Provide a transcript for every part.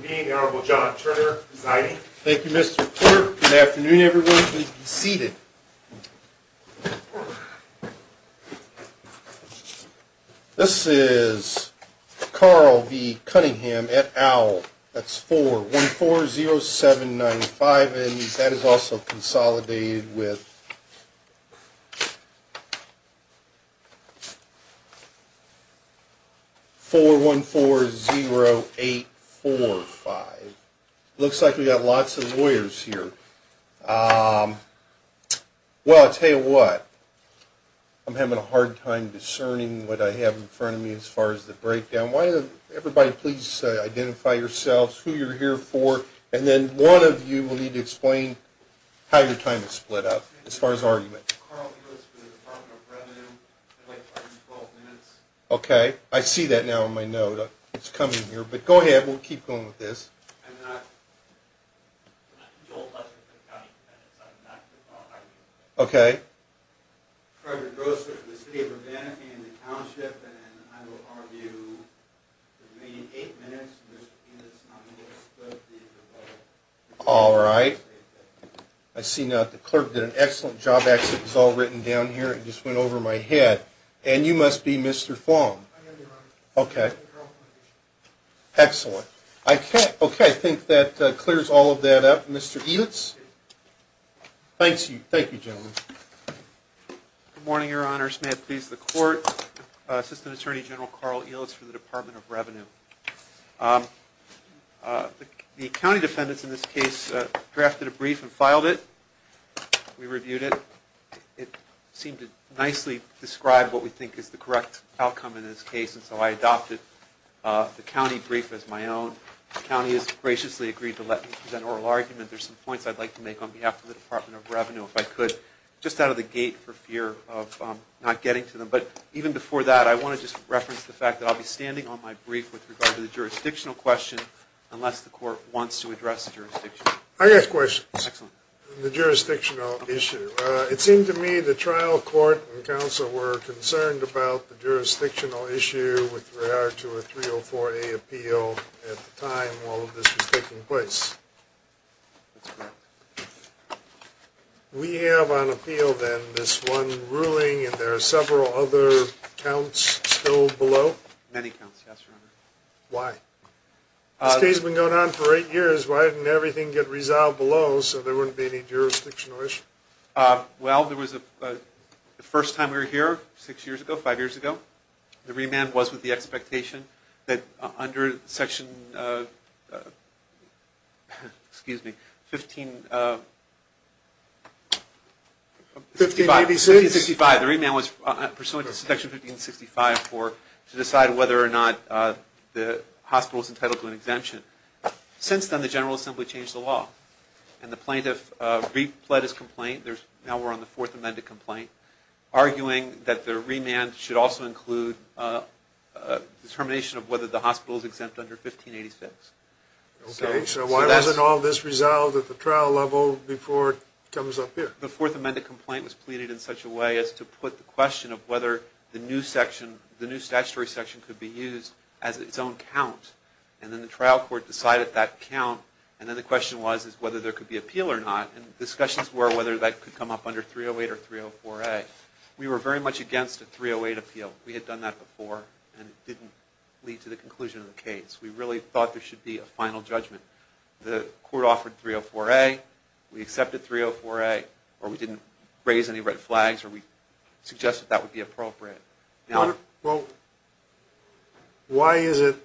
Good evening, the Honorable John Turner presiding. Thank you, Mr. Clerk. Good afternoon, everyone. Please be seated. This is Carle v. Cunningham at Owl. That's 4140795 and that is also consolidated with 4140845. Looks like we've got lots of lawyers here. Well, I'll tell you what, I'm having a hard time discerning what I have in front of me as far as the breakdown. Why don't everybody please identify yourselves, who you're here for, and then one of you will need to explain how your time is split up as far as argument. Okay, I see that now on my note. It's coming here, but go ahead. We'll keep going with this. All right. I see now that the clerk did an excellent job. Actually, it was all written down here. It just went over my head. And you must be Mr. Fong. Okay. Excellent. Okay, I think that clears all of that up. Mr. Elitz. Thank you, gentlemen. Good morning, Your Honors. May it please the Court. Assistant Attorney General Carl Elitz for the Department of Revenue. The county defendants in this case drafted a brief and filed it. We reviewed it. It seemed to nicely describe what we think is the correct outcome in this case, and so I adopted the county brief as my own. The county has graciously agreed to let me present oral argument. There's some points I'd like to make on behalf of the Department of Revenue, if I could, just out of the gate for fear of not getting to them. But even before that, I want to just reference the fact that I'll be standing on my brief with regard to the jurisdictional question, unless the Court wants to address the jurisdiction. I have questions on the jurisdictional issue. It seemed to me the trial court and counsel were concerned about the jurisdictional issue with regard to a 304A appeal at the time all of this was taking place. That's correct. We have on appeal, then, this one ruling, and there are several other counts still below? Many counts, yes, Your Honor. Why? This case has been going on for eight years. Why didn't everything get resolved below so there wouldn't be any jurisdictional issue? Well, the first time we were here, six years ago, five years ago, the remand was with the expectation that under Section 1565, the remand was pursuant to Section 1565 to decide whether or not the hospital is entitled to an exemption. Since then, the General Assembly changed the law, and the plaintiff replet his complaint. Now we're on the Fourth Amendment complaint, arguing that the remand should also include determination of whether the hospital is exempt under 1586. Okay, so why wasn't all this resolved at the trial level before it comes up here? The Fourth Amendment complaint was pleaded in such a way as to put the question of whether the new statutory section could be used as its own count. And then the trial court decided that count, and then the question was whether there could be appeal or not, and discussions were whether that could come up under 308 or 304A. We were very much against a 308 appeal. We had done that before and it didn't lead to the conclusion of the case. We really thought there should be a final judgment. The court offered 304A, we accepted 304A, or we didn't raise any red flags, or we suggested that would be appropriate. Well, why is it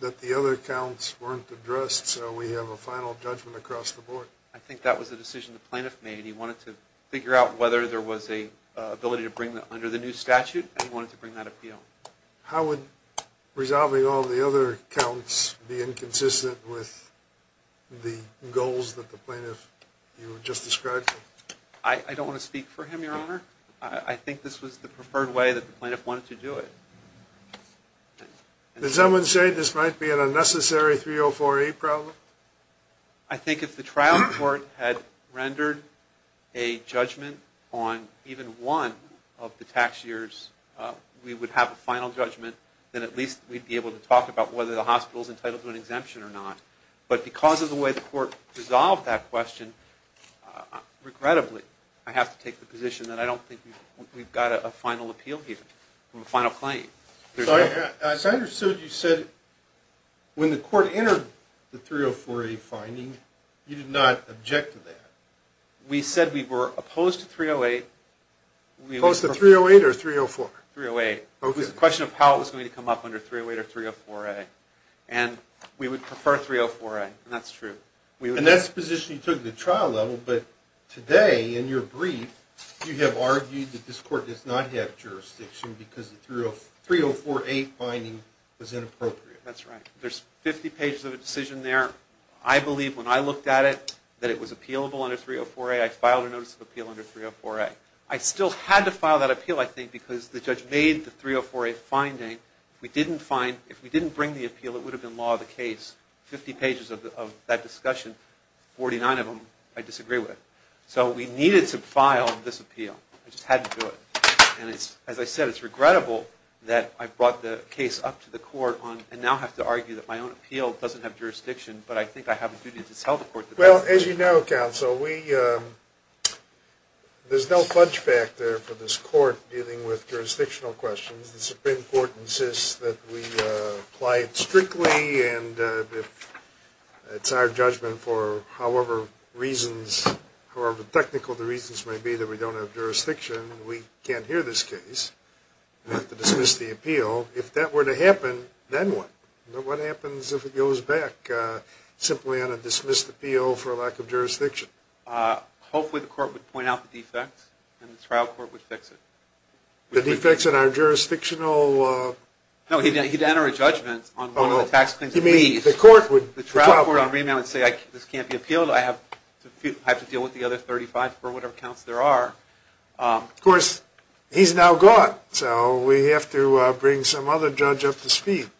that the other counts weren't addressed so we have a final judgment across the board? I think that was a decision the plaintiff made. He wanted to figure out whether there was an ability to bring that under the new statute, and he wanted to bring that appeal. So how would resolving all the other counts be inconsistent with the goals that the plaintiff you just described? I don't want to speak for him, Your Honor. I think this was the preferred way that the plaintiff wanted to do it. Did someone say this might be an unnecessary 304A problem? I think if the trial court had rendered a judgment on even one of the tax years, we would have a final judgment, then at least we'd be able to talk about whether the hospital is entitled to an exemption or not. But because of the way the court resolved that question, regrettably, I have to take the position that I don't think we've got a final appeal here, a final claim. So I understood you said when the court entered the 304A finding, you did not object to that. We said we were opposed to 308. Opposed to 308 or 304? 308. It was a question of how it was going to come up under 308 or 304A, and we would prefer 304A, and that's true. And that's the position you took at the trial level, but today, in your brief, you have argued that this court does not have jurisdiction because the 304A finding was inappropriate. That's right. There's 50 pages of a decision there. I believe when I looked at it, that it was appealable under 304A. I filed a notice of appeal under 304A. I still had to file that appeal, I think, because the judge made the 304A finding. If we didn't bring the appeal, it would have been law of the case. 50 pages of that discussion, 49 of them I disagree with. So we needed to file this appeal. I just had to do it. And as I said, it's regrettable that I brought the case up to the court and now have to argue that my own appeal doesn't have jurisdiction, but I think I have a duty to tell the court the truth. Well, as you know, counsel, there's no fudge factor for this court dealing with jurisdictional questions. The Supreme Court insists that we apply it strictly, and if it's our judgment for however technical the reasons may be that we don't have jurisdiction, we can't hear this case. We have to dismiss the appeal. If that were to happen, then what? What happens if it goes back, simply on a dismissed appeal for lack of jurisdiction? Hopefully the court would point out the defects and the trial court would fix it. The defects in our jurisdictional... No, he'd enter a judgment on one of the tax claims at least. You mean the court would... The trial court on remand would say, this can't be appealed, I have to deal with the other 35 for whatever counts there are. Of course, he's now gone, so we have to bring some other judge up to speed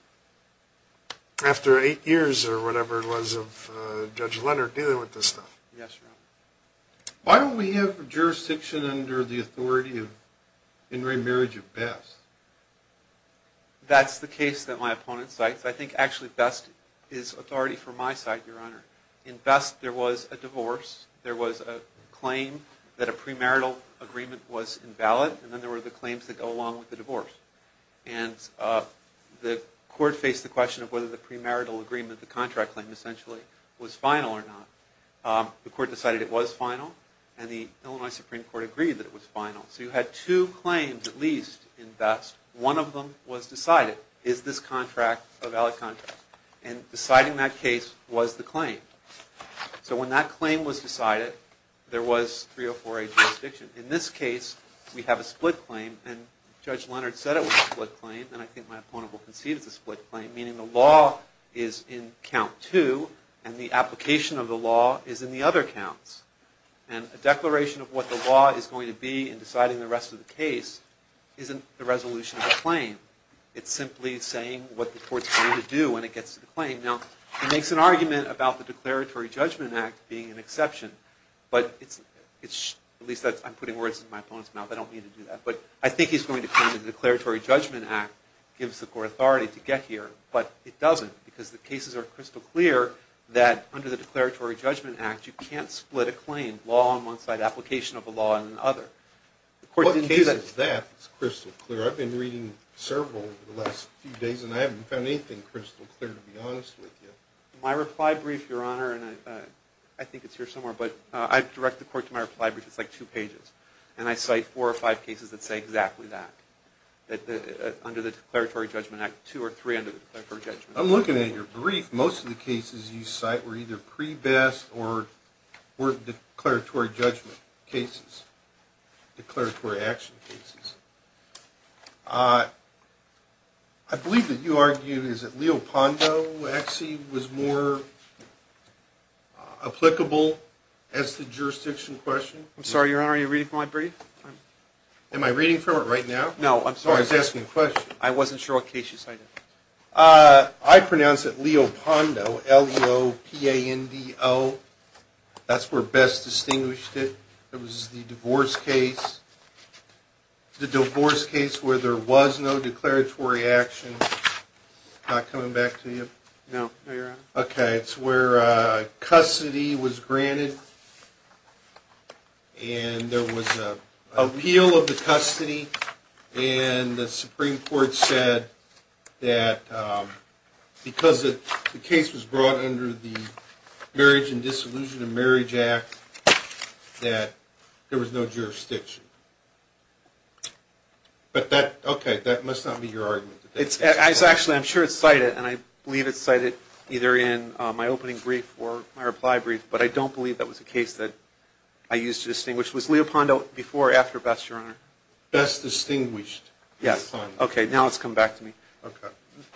after eight years or whatever it was of Judge Leonard dealing with this stuff. Yes, Your Honor. Why don't we have jurisdiction under the authority in remarriage of best? That's the case that my opponent cites. I think actually best is authority for my side, Your Honor. In best, there was a divorce. There was a claim that a premarital agreement was invalid, and then there were the claims that go along with the divorce. And the court faced the question of whether the premarital agreement, the contract claim essentially, was final or not. The court decided it was final, and the Illinois Supreme Court agreed that it was final. So you had two claims at least in best. One of them was decided. Is this contract a valid contract? And deciding that case was the claim. So when that claim was decided, there was 304A jurisdiction. In this case, we have a split claim, and Judge Leonard said it was a split claim, and I think my opponent will concede it's a split claim, meaning the law is in count two, and the application of the law is in the other counts. And a declaration of what the law is going to be in deciding the rest of the case isn't the resolution of the claim. It's simply saying what the court's going to do when it gets to the claim. Now, he makes an argument about the Declaratory Judgment Act being an exception, but at least I'm putting words in my opponent's mouth. I don't mean to do that. But I think he's going to claim that the Declaratory Judgment Act gives the court authority to get here, but it doesn't because the cases are crystal clear that under the Declaratory Judgment Act, you can't split a claim, law on one side, application of a law on the other. The court didn't do that. I've been reading several over the last few days, and I haven't found anything crystal clear, to be honest with you. My reply brief, Your Honor, and I think it's here somewhere, but I direct the court to my reply brief. It's like two pages, and I cite four or five cases that say exactly that, that under the Declaratory Judgment Act, two or three under the Declaratory Judgment Act. I'm looking at your brief. Most of the cases you cite were either pre-best or were declaratory judgment cases, declaratory action cases. I believe that you argued, is it, Leopondo actually was more applicable as the jurisdiction question? I'm sorry, Your Honor, are you reading from my brief? Am I reading from it right now? No, I'm sorry. I was asking a question. I wasn't sure what case you cited. I pronounce it Leopondo, L-E-O-P-A-N-D-O. That's where Best distinguished it. It was the divorce case, the divorce case where there was no declaratory action. Not coming back to you? No, Your Honor. Okay, it's where custody was granted, and there was an appeal of the custody, and the Supreme Court said that because the case was brought under the Marriage and Disillusion of Marriage Act, that there was no jurisdiction. But that, okay, that must not be your argument. Actually, I'm sure it's cited, and I believe it's cited either in my opening brief or my reply brief, but I don't believe that was a case that I used to distinguish. Your Honor? Best distinguished. Yes. Okay, now it's come back to me.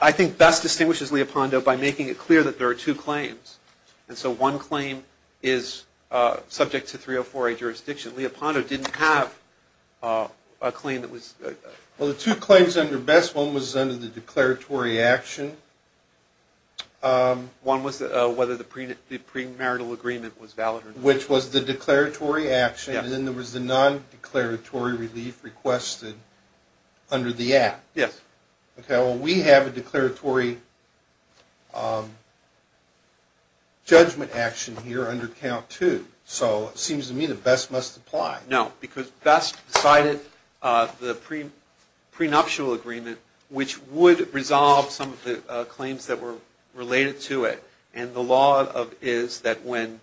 I think Best distinguishes Leopondo by making it clear that there are two claims, and so one claim is subject to 304A jurisdiction. Leopondo didn't have a claim that was... Well, the two claims under Best, one was under the declaratory action. One was whether the premarital agreement was valid or not. Which was the declaratory action, and then there was the non-declaratory relief requested under the Act. Yes. Okay, well, we have a declaratory judgment action here under Count 2, so it seems to me that Best must apply. No, because Best decided the prenuptial agreement, which would resolve some of the claims that were related to it, and the law is that when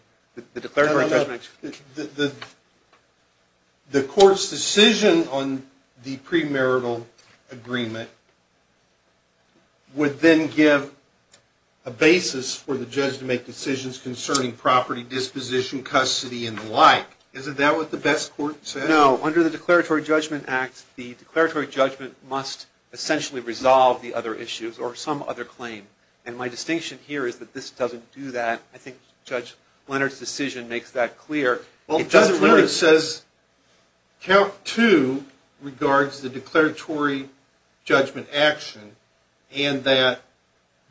the declaratory judgment... The court's decision on the premarital agreement would then give a basis for the judge to make decisions concerning property disposition, custody, and the like. Isn't that what the Best court said? No, under the Declaratory Judgment Act, the declaratory judgment must essentially resolve the other issues or some other claim, and my distinction here is that this doesn't do that. I think Judge Leonard's decision makes that clear. It doesn't really... Well, Judge Leonard says Count 2 regards the declaratory judgment action, and that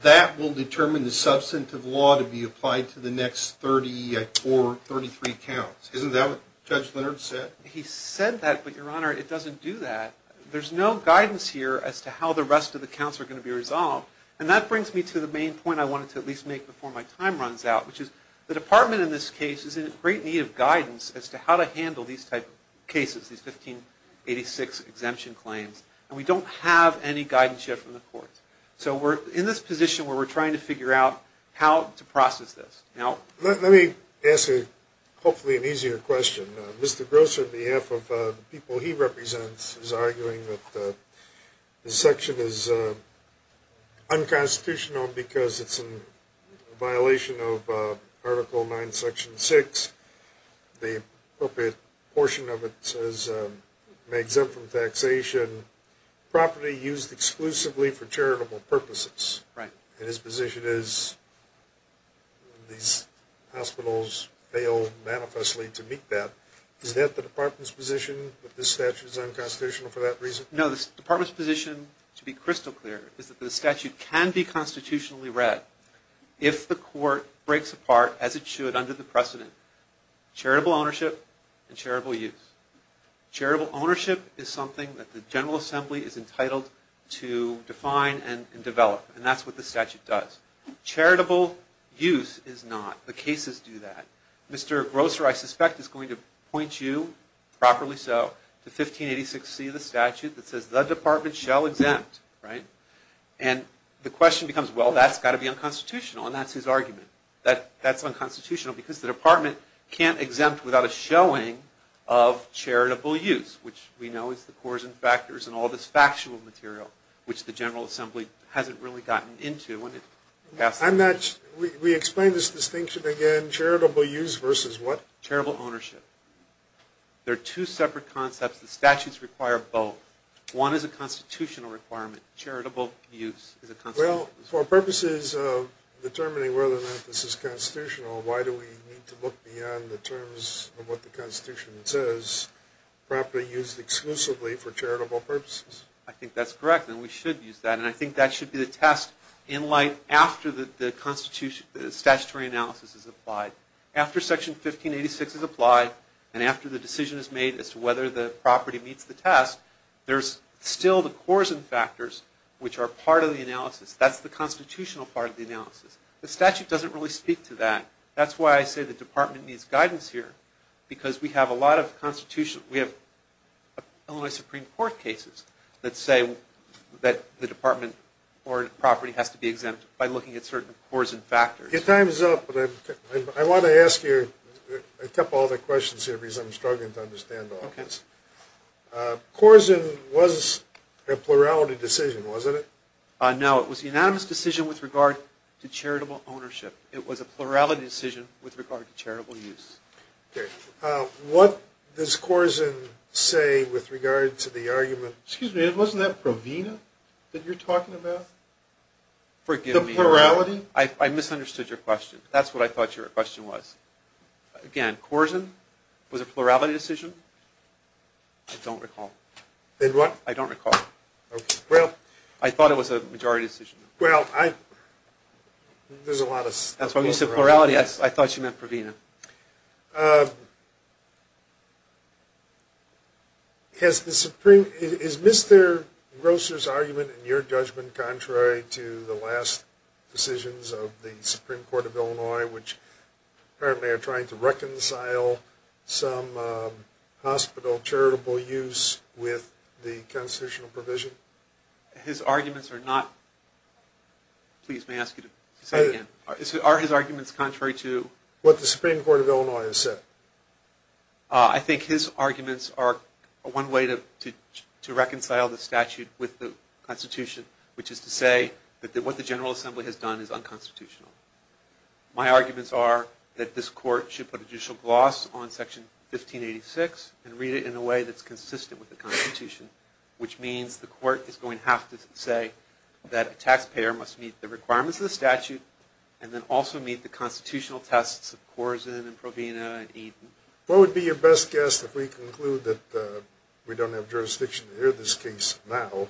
that will determine the substantive law to be applied to the next 34, 33 counts. Isn't that what Judge Leonard said? He said that, but, Your Honor, it doesn't do that. There's no guidance here as to how the rest of the counts are going to be resolved, and that brings me to the main point I wanted to at least make before my time runs out, which is the Department in this case is in great need of guidance as to how to handle these types of cases, these 1586 exemption claims, and we don't have any guidance yet from the courts. So we're in this position where we're trying to figure out how to process this. Let me ask hopefully an easier question. Mr. Grosser, on behalf of the people he represents, is arguing that this section is unconstitutional because it's in violation of Article 9, Section 6. The appropriate portion of it says, made exempt from taxation, property used exclusively for charitable purposes. Right. And his position is these hospitals fail manifestly to meet that. Is that the Department's position that this statute is unconstitutional for that reason? No, the Department's position, to be crystal clear, is that the statute can be constitutionally read if the court breaks apart, as it should, under the precedent, charitable ownership and charitable use. Charitable ownership is something that the General Assembly is entitled to define and develop, and that's what the statute does. Charitable use is not. The cases do that. Mr. Grosser, I suspect, is going to point you, properly so, to 1586C of the statute that says, the Department shall exempt. Right. And the question becomes, well, that's got to be unconstitutional, and that's his argument. That's unconstitutional because the Department can't exempt without a showing of charitable use, which we know is the cores and factors and all this factual material, which the General Assembly hasn't really gotten into. We explained this distinction again. Charitable use versus what? Charitable ownership. They're two separate concepts. The statutes require both. One is a constitutional requirement. Charitable use is a constitutional requirement. Well, for purposes of determining whether or not this is constitutional, why do we need to look beyond the terms of what the Constitution says? Property used exclusively for charitable purposes. I think that's correct, and we should use that, and I think that should be the test in light after the statutory analysis is applied. After Section 1586 is applied, and after the decision is made as to whether the property meets the test, there's still the cores and factors, which are part of the analysis. That's the constitutional part of the analysis. The statute doesn't really speak to that. That's why I say the Department needs guidance here, because we have a lot of Constitutional – we have Illinois Supreme Court cases that say that the Department or property has to be exempt by looking at certain cores and factors. Your time is up, but I want to ask you a couple other questions here, because I'm struggling to understand all this. Corzine was a plurality decision, wasn't it? No, it was the unanimous decision with regard to charitable ownership. It was a plurality decision with regard to charitable use. Okay. What does Corzine say with regard to the argument – Excuse me, wasn't that Provena that you're talking about? Forgive me. The plurality? I misunderstood your question. That's what I thought your question was. Again, Corzine was a plurality decision? I don't recall. Then what? I don't recall. Okay, well – I thought it was a majority decision. Well, I – there's a lot of – That's why when you said plurality, I thought you meant Provena. Has the Supreme – is Mr. Grosser's argument in your judgment contrary to the last decisions of the Supreme Court of Illinois, which apparently are trying to reconcile some hospital charitable use with the constitutional provision? His arguments are not – please, may I ask you to say it again? Are his arguments contrary to – What the Supreme Court of Illinois has said. I think his arguments are one way to reconcile the statute with the Constitution, which is to say that what the General Assembly has done is unconstitutional. My arguments are that this court should put a judicial gloss on Section 1586 and read it in a way that's consistent with the Constitution, which means the court is going to have to say that a taxpayer must meet the requirements of the statute and then also meet the constitutional tests of Corzine and Provena and Eden. What would be your best guess if we conclude that we don't have jurisdiction to hear this case now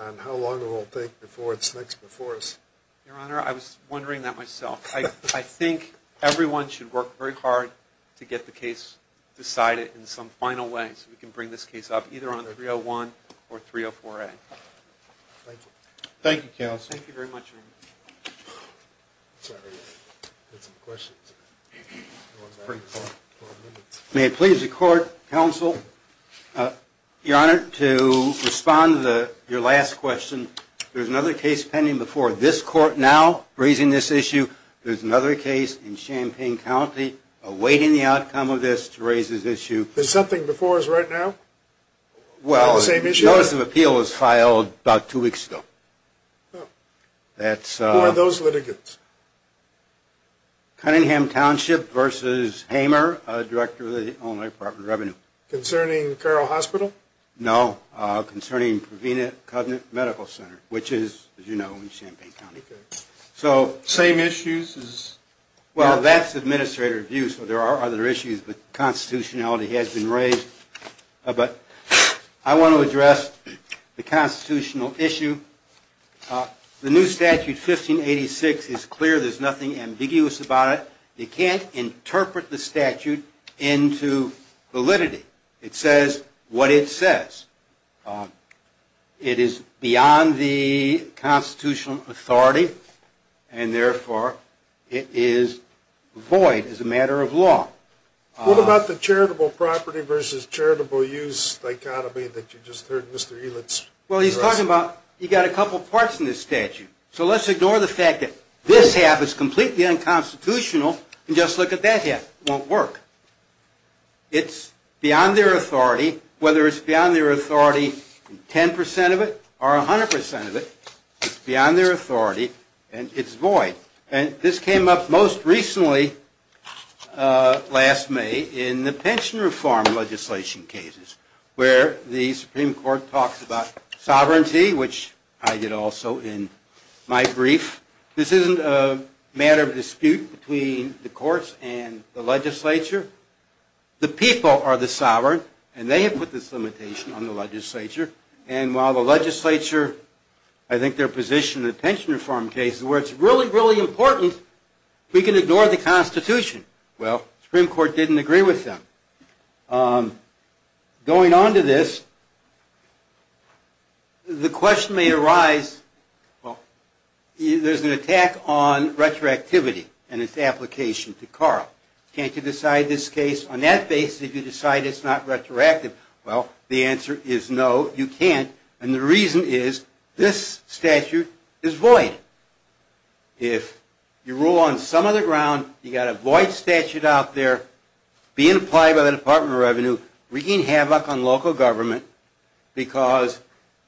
and how long it will take before it's next before us? Your Honor, I was wondering that myself. I think everyone should work very hard to get the case decided in some final way so we can bring this case up either on 301 or 304A. Thank you. Thank you, counsel. Thank you very much. Sorry, I had some questions. May it please the court, counsel. Your Honor, to respond to your last question, there's another case pending before this court now raising this issue. There's another case in Champaign County awaiting the outcome of this to raise this issue. There's something before us right now on the same issue? Well, a notice of appeal was filed about two weeks ago. Who are those litigants? Cunningham Township v. Hamer, Director of the Illinois Department of Revenue. Concerning Carroll Hospital? No, concerning Provena Cognate Medical Center, which is, as you know, in Champaign County. Same issues? Well, that's administrative review, so there are other issues, but constitutionality has been raised. But I want to address the constitutional issue. The new statute, 1586, is clear. There's nothing ambiguous about it. You can't interpret the statute into validity. It says what it says. It is beyond the constitutional authority, and, therefore, it is void as a matter of law. What about the charitable property versus charitable use dichotomy that you just heard Mr. Elitz address? Well, he's talking about you've got a couple parts in this statute. So let's ignore the fact that this half is completely unconstitutional and just look at that half. It won't work. It's beyond their authority, whether it's beyond their authority in 10 percent of it or 100 percent of it. It's beyond their authority, and it's void. And this came up most recently, last May, in the pension reform legislation cases, where the Supreme Court talks about sovereignty, which I did also in my brief. This isn't a matter of dispute between the courts and the legislature. The people are the sovereign, and they have put this limitation on the legislature. And while the legislature, I think their position in the pension reform case is where it's really, really important, we can ignore the Constitution. Well, the Supreme Court didn't agree with them. Going on to this, the question may arise, well, there's an attack on retroactivity and its application to Carl. Can't you decide this case on that basis if you decide it's not retroactive? Well, the answer is no, you can't, and the reason is this statute is void. If you rule on some other ground, you've got a void statute out there being applied by the Department of Revenue wreaking havoc on local government because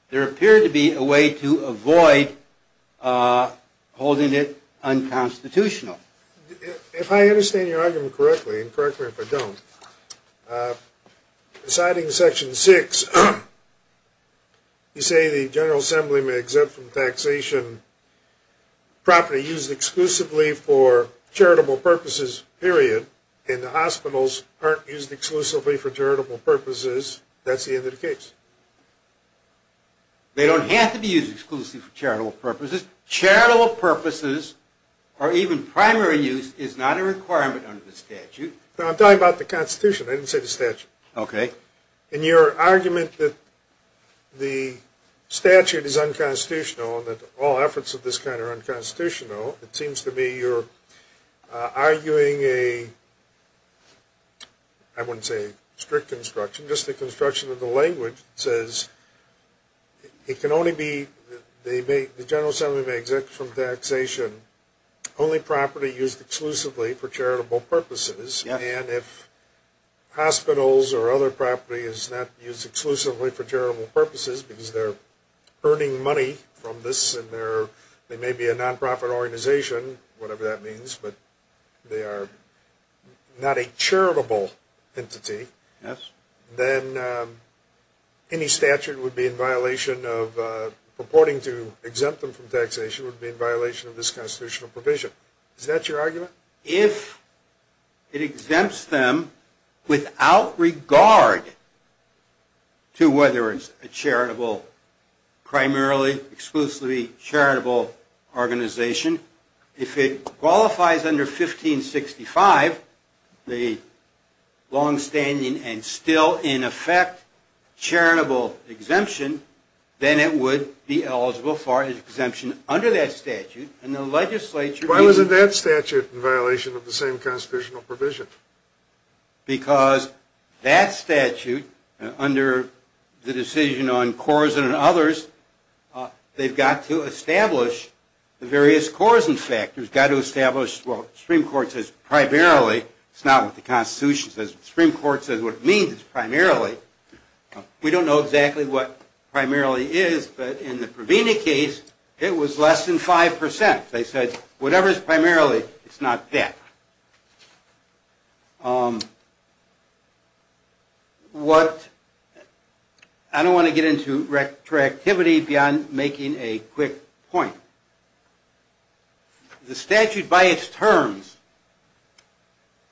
there appeared to be a way to avoid holding it unconstitutional. If I understand your argument correctly, and correct me if I don't, deciding Section 6, you say the General Assembly may exempt from taxation property used exclusively for charitable purposes, period, and the hospitals aren't used exclusively for charitable purposes, that's the end of the case. They don't have to be used exclusively for charitable purposes. Charitable purposes or even primary use is not a requirement under the statute. No, I'm talking about the Constitution. I didn't say the statute. Okay. In your argument that the statute is unconstitutional and that all efforts of this kind are unconstitutional, it seems to me you're arguing a, I wouldn't say a strict construction, just a construction of the language that says it can only be, the General Assembly may exempt from taxation only property used exclusively for charitable purposes, and if hospitals or other property is not used exclusively for charitable purposes because they're earning money from this and they may be a non-profit organization, whatever that means, but they are not a charitable entity, then any statute would be in violation of, purporting to exempt them from taxation, would be in violation of this constitutional provision. Is that your argument? If it exempts them without regard to whether it's a charitable, primarily exclusively charitable organization, if it qualifies under 1565, the longstanding and still in effect charitable exemption, then it would be eligible for exemption under that statute, and the legislature... Why wasn't that statute in violation of the same constitutional provision? Because that statute, under the decision on Corzine and others, they've got to establish the various Corzine factors, got to establish what the Supreme Court says primarily, it's not what the Constitution says, the Supreme Court says what it means is primarily, we don't know exactly what primarily is, but in the Provena case, it was less than 5%. They said, whatever is primarily, it's not that. What... I don't want to get into retroactivity beyond making a quick point. The statute by its terms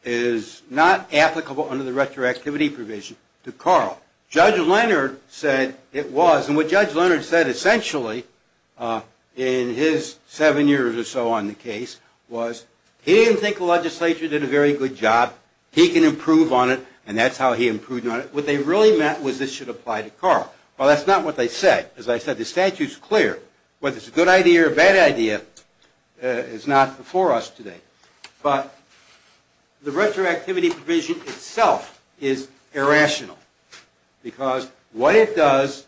is not applicable under the retroactivity provision to Carl. Judge Leonard said it was, and what Judge Leonard said essentially, in his seven years or so on the case, was he didn't think the legislature did a very good job, he can improve on it, and that's how he improved on it. What they really meant was this should apply to Carl. Well, that's not what they said. As I said, the statute's clear. Whether it's a good idea or a bad idea is not before us today. But the retroactivity provision itself is irrational, because what it does,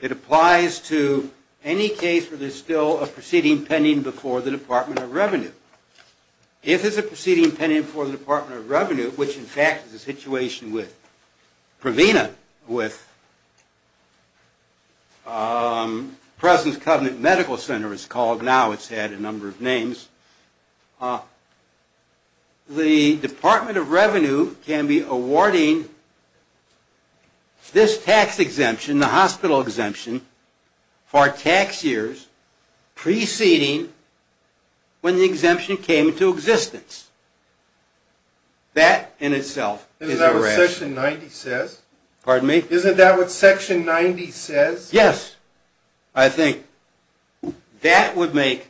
it applies to any case where there's still a proceeding pending before the Department of Revenue. If there's a proceeding pending before the Department of Revenue, which in fact is the situation with Provena, with President's Covenant Medical Center it's called now, it's had a number of names, the Department of Revenue can be awarding this tax exemption, the hospital exemption, for tax years preceding when the exemption came into existence. That in itself is irrational. Isn't that what Section 90 says? Pardon me? Isn't that what Section 90 says? Yes, I think that would make,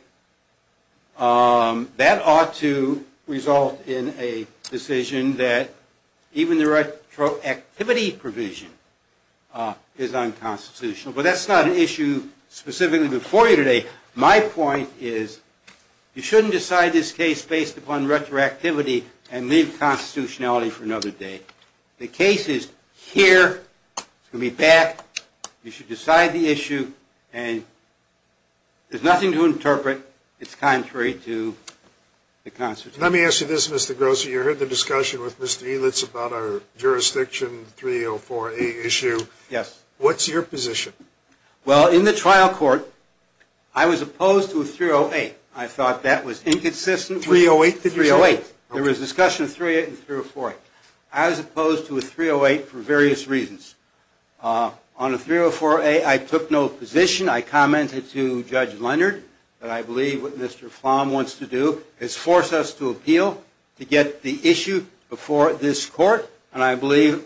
that ought to result in a decision that even the retroactivity provision is unconstitutional. But that's not an issue specifically before you today. My point is you shouldn't decide this case based upon retroactivity and leave constitutionality for another day. The case is here, it's going to be back, you should decide the issue, and there's nothing to interpret that's contrary to the Constitution. Let me ask you this, Mr. Grosser. You heard the discussion with Mr. Elitz about our Jurisdiction 304A issue. Yes. What's your position? Well, in the trial court, I was opposed to a 308. I thought that was inconsistent. 308, did you say? 308. There was a discussion of 308 and 304A. I was opposed to a 308 for various reasons. On a 304A, I took no position. I commented to Judge Leonard that I believe what Mr. Flom wants to do is force us to appeal to get the issue before this court, and I believe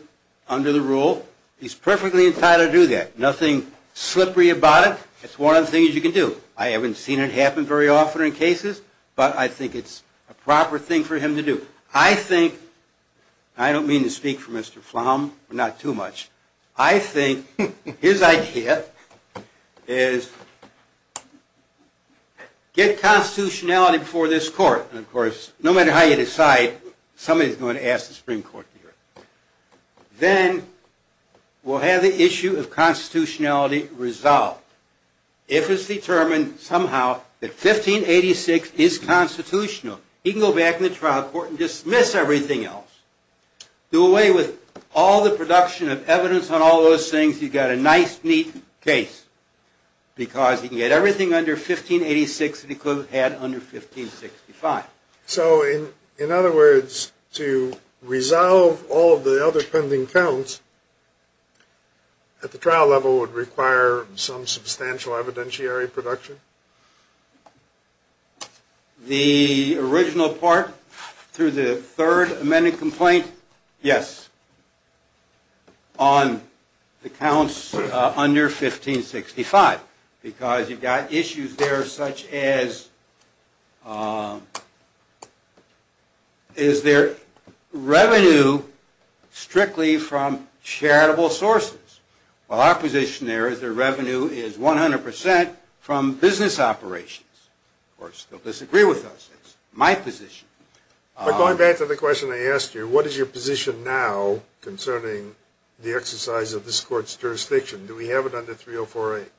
under the rule he's perfectly entitled to do that. Nothing slippery about it. It's one of the things you can do. I haven't seen it happen very often in cases, but I think it's a proper thing for him to do. I think, and I don't mean to speak for Mr. Flom, but not too much, I think his idea is get constitutionality before this court. And of course, no matter how you decide, somebody's going to ask the Supreme Court to hear it. Then we'll have the issue of constitutionality resolved. If it's determined somehow that 1586 is constitutional, he can go back in the trial court and dismiss everything else. Do away with all the production of evidence on all those things. You've got a nice, neat case, because he can get everything under 1586 that he could have had under 1565. So in other words, to resolve all of the other pending counts at the trial level would require some substantial evidentiary production? The original part through the third amended complaint, yes, on the counts under 1565. Because you've got issues there such as, is there revenue strictly from charitable sources? Well, our position there is the revenue is 100% from business operations. Of course, they'll disagree with us. That's my position. But going back to the question I asked you, what is your position now concerning the exercise of this court's jurisdiction? Do we have it under 3048?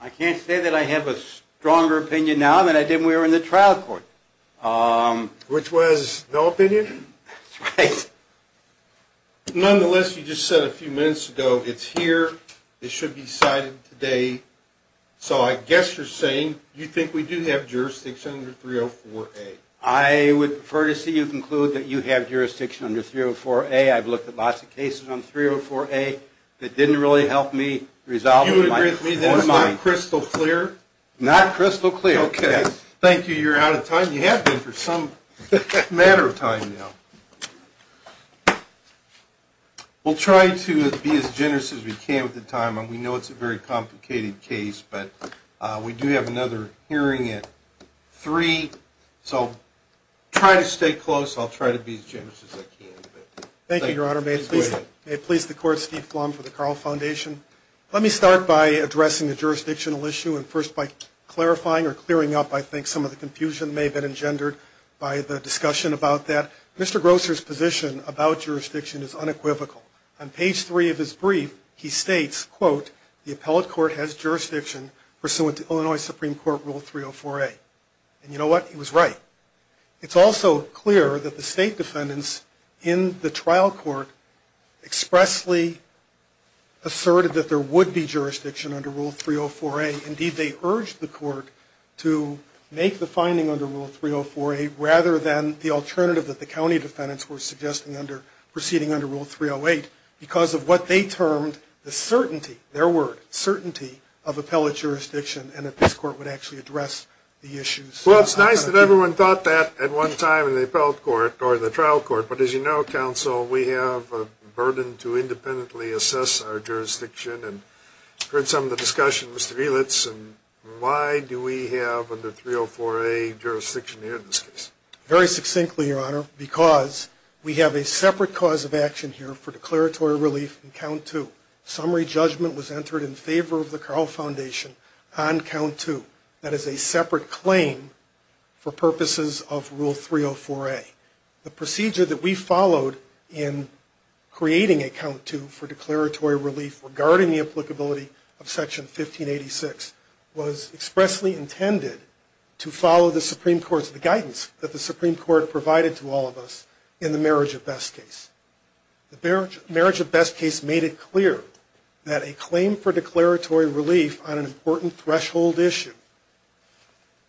I can't say that I have a stronger opinion now than I did when we were in the trial court. Which was no opinion? That's right. Nonetheless, you just said a few minutes ago, it's here, it should be cited today. So I guess you're saying you think we do have jurisdiction under 304A. I would prefer to see you conclude that you have jurisdiction under 304A. I've looked at lots of cases under 304A that didn't really help me resolve them. You agree with me that it's not crystal clear? Not crystal clear, yes. Okay, thank you. Maybe you're out of time. You have been for some matter of time now. We'll try to be as generous as we can with the time. We know it's a very complicated case, but we do have another hearing at 3. So try to stay close. I'll try to be as generous as I can. Thank you, Your Honor. May it please the Court, Steve Flom for the Carl Foundation. Let me start by addressing the jurisdictional issue. And first by clarifying or clearing up, I think, some of the confusion that may have been engendered by the discussion about that. Mr. Grosser's position about jurisdiction is unequivocal. On page 3 of his brief, he states, quote, the appellate court has jurisdiction pursuant to Illinois Supreme Court Rule 304A. And you know what? He was right. It's also clear that the state defendants in the trial court expressly asserted that there would be jurisdiction under Rule 304A. Indeed, they urged the court to make the finding under Rule 304A, rather than the alternative that the county defendants were suggesting proceeding under Rule 308, because of what they termed the certainty, their word, certainty of appellate jurisdiction, and that this court would actually address the issues. Well, it's nice that everyone thought that at one time in the appellate court, or the trial court. But as you know, counsel, we have a burden to independently assess our jurisdiction. And I've heard some of the discussion. Mr. Elitz, why do we have under 304A jurisdiction here in this case? Very succinctly, Your Honor, because we have a separate cause of action here for declaratory relief in Count 2. Summary judgment was entered in favor of the Carl Foundation on Count 2. That is a separate claim for purposes of Rule 304A. The procedure that we followed in creating a Count 2 for declaratory relief regarding the applicability of Section 1586 was expressly intended to follow the Supreme Court's guidance that the Supreme Court provided to all of us in the Marriage of Best case. The Marriage of Best case made it clear that a claim for declaratory relief on an important threshold issue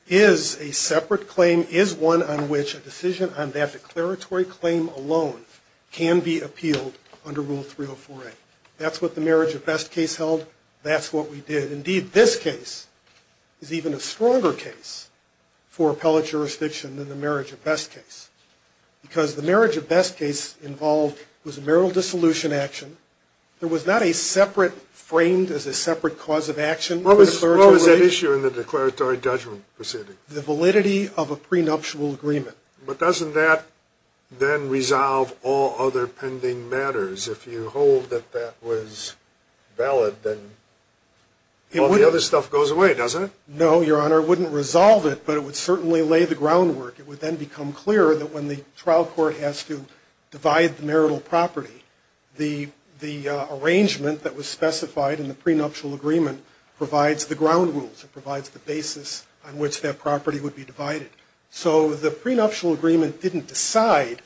is a separate claim, and that a claim is one on which a decision on that declaratory claim alone can be appealed under Rule 304A. That's what the Marriage of Best case held. That's what we did. Indeed, this case is even a stronger case for appellate jurisdiction than the Marriage of Best case, because the Marriage of Best case involved was a marital dissolution action. There was not a separate, framed as a separate cause of action for declaratory relief. What was at issue in the declaratory judgment proceeding? The validity of a prenuptial agreement. But doesn't that then resolve all other pending matters? If you hold that that was valid, then all the other stuff goes away, doesn't it? No, Your Honor. It wouldn't resolve it, but it would certainly lay the groundwork. It would then become clearer that when the trial court has to divide the marital property, the arrangement that was specified in the prenuptial agreement provides the ground rules. It provides the basis on which that property would be divided. So the prenuptial agreement didn't decide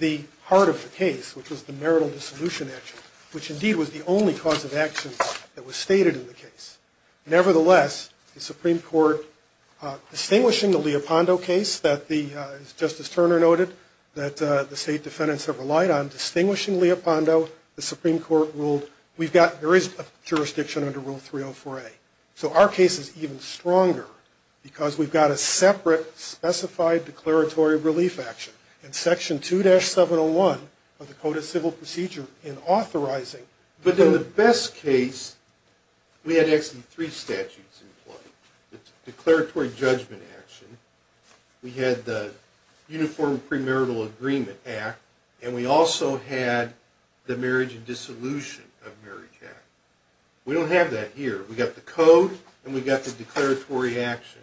the heart of the case, which was the marital dissolution action, which indeed was the only cause of action that was stated in the case. Nevertheless, the Supreme Court, distinguishing the Leopondo case that the, as Justice Turner noted, that the state defendants have relied on, distinguishing Leopondo, the Supreme Court ruled we've got, there is a jurisdiction under Rule 304A. So our case is even stronger because we've got a separate specified declaratory relief action in Section 2-701 of the Code of Civil Procedure in authorizing. But in the best case, we had actually three statutes in play. The declaratory judgment action, we had the Uniform Premarital Agreement Act, and we also had the Marriage and Dissolution of Marriage Act. We don't have that here. We've got the Code and we've got the declaratory action.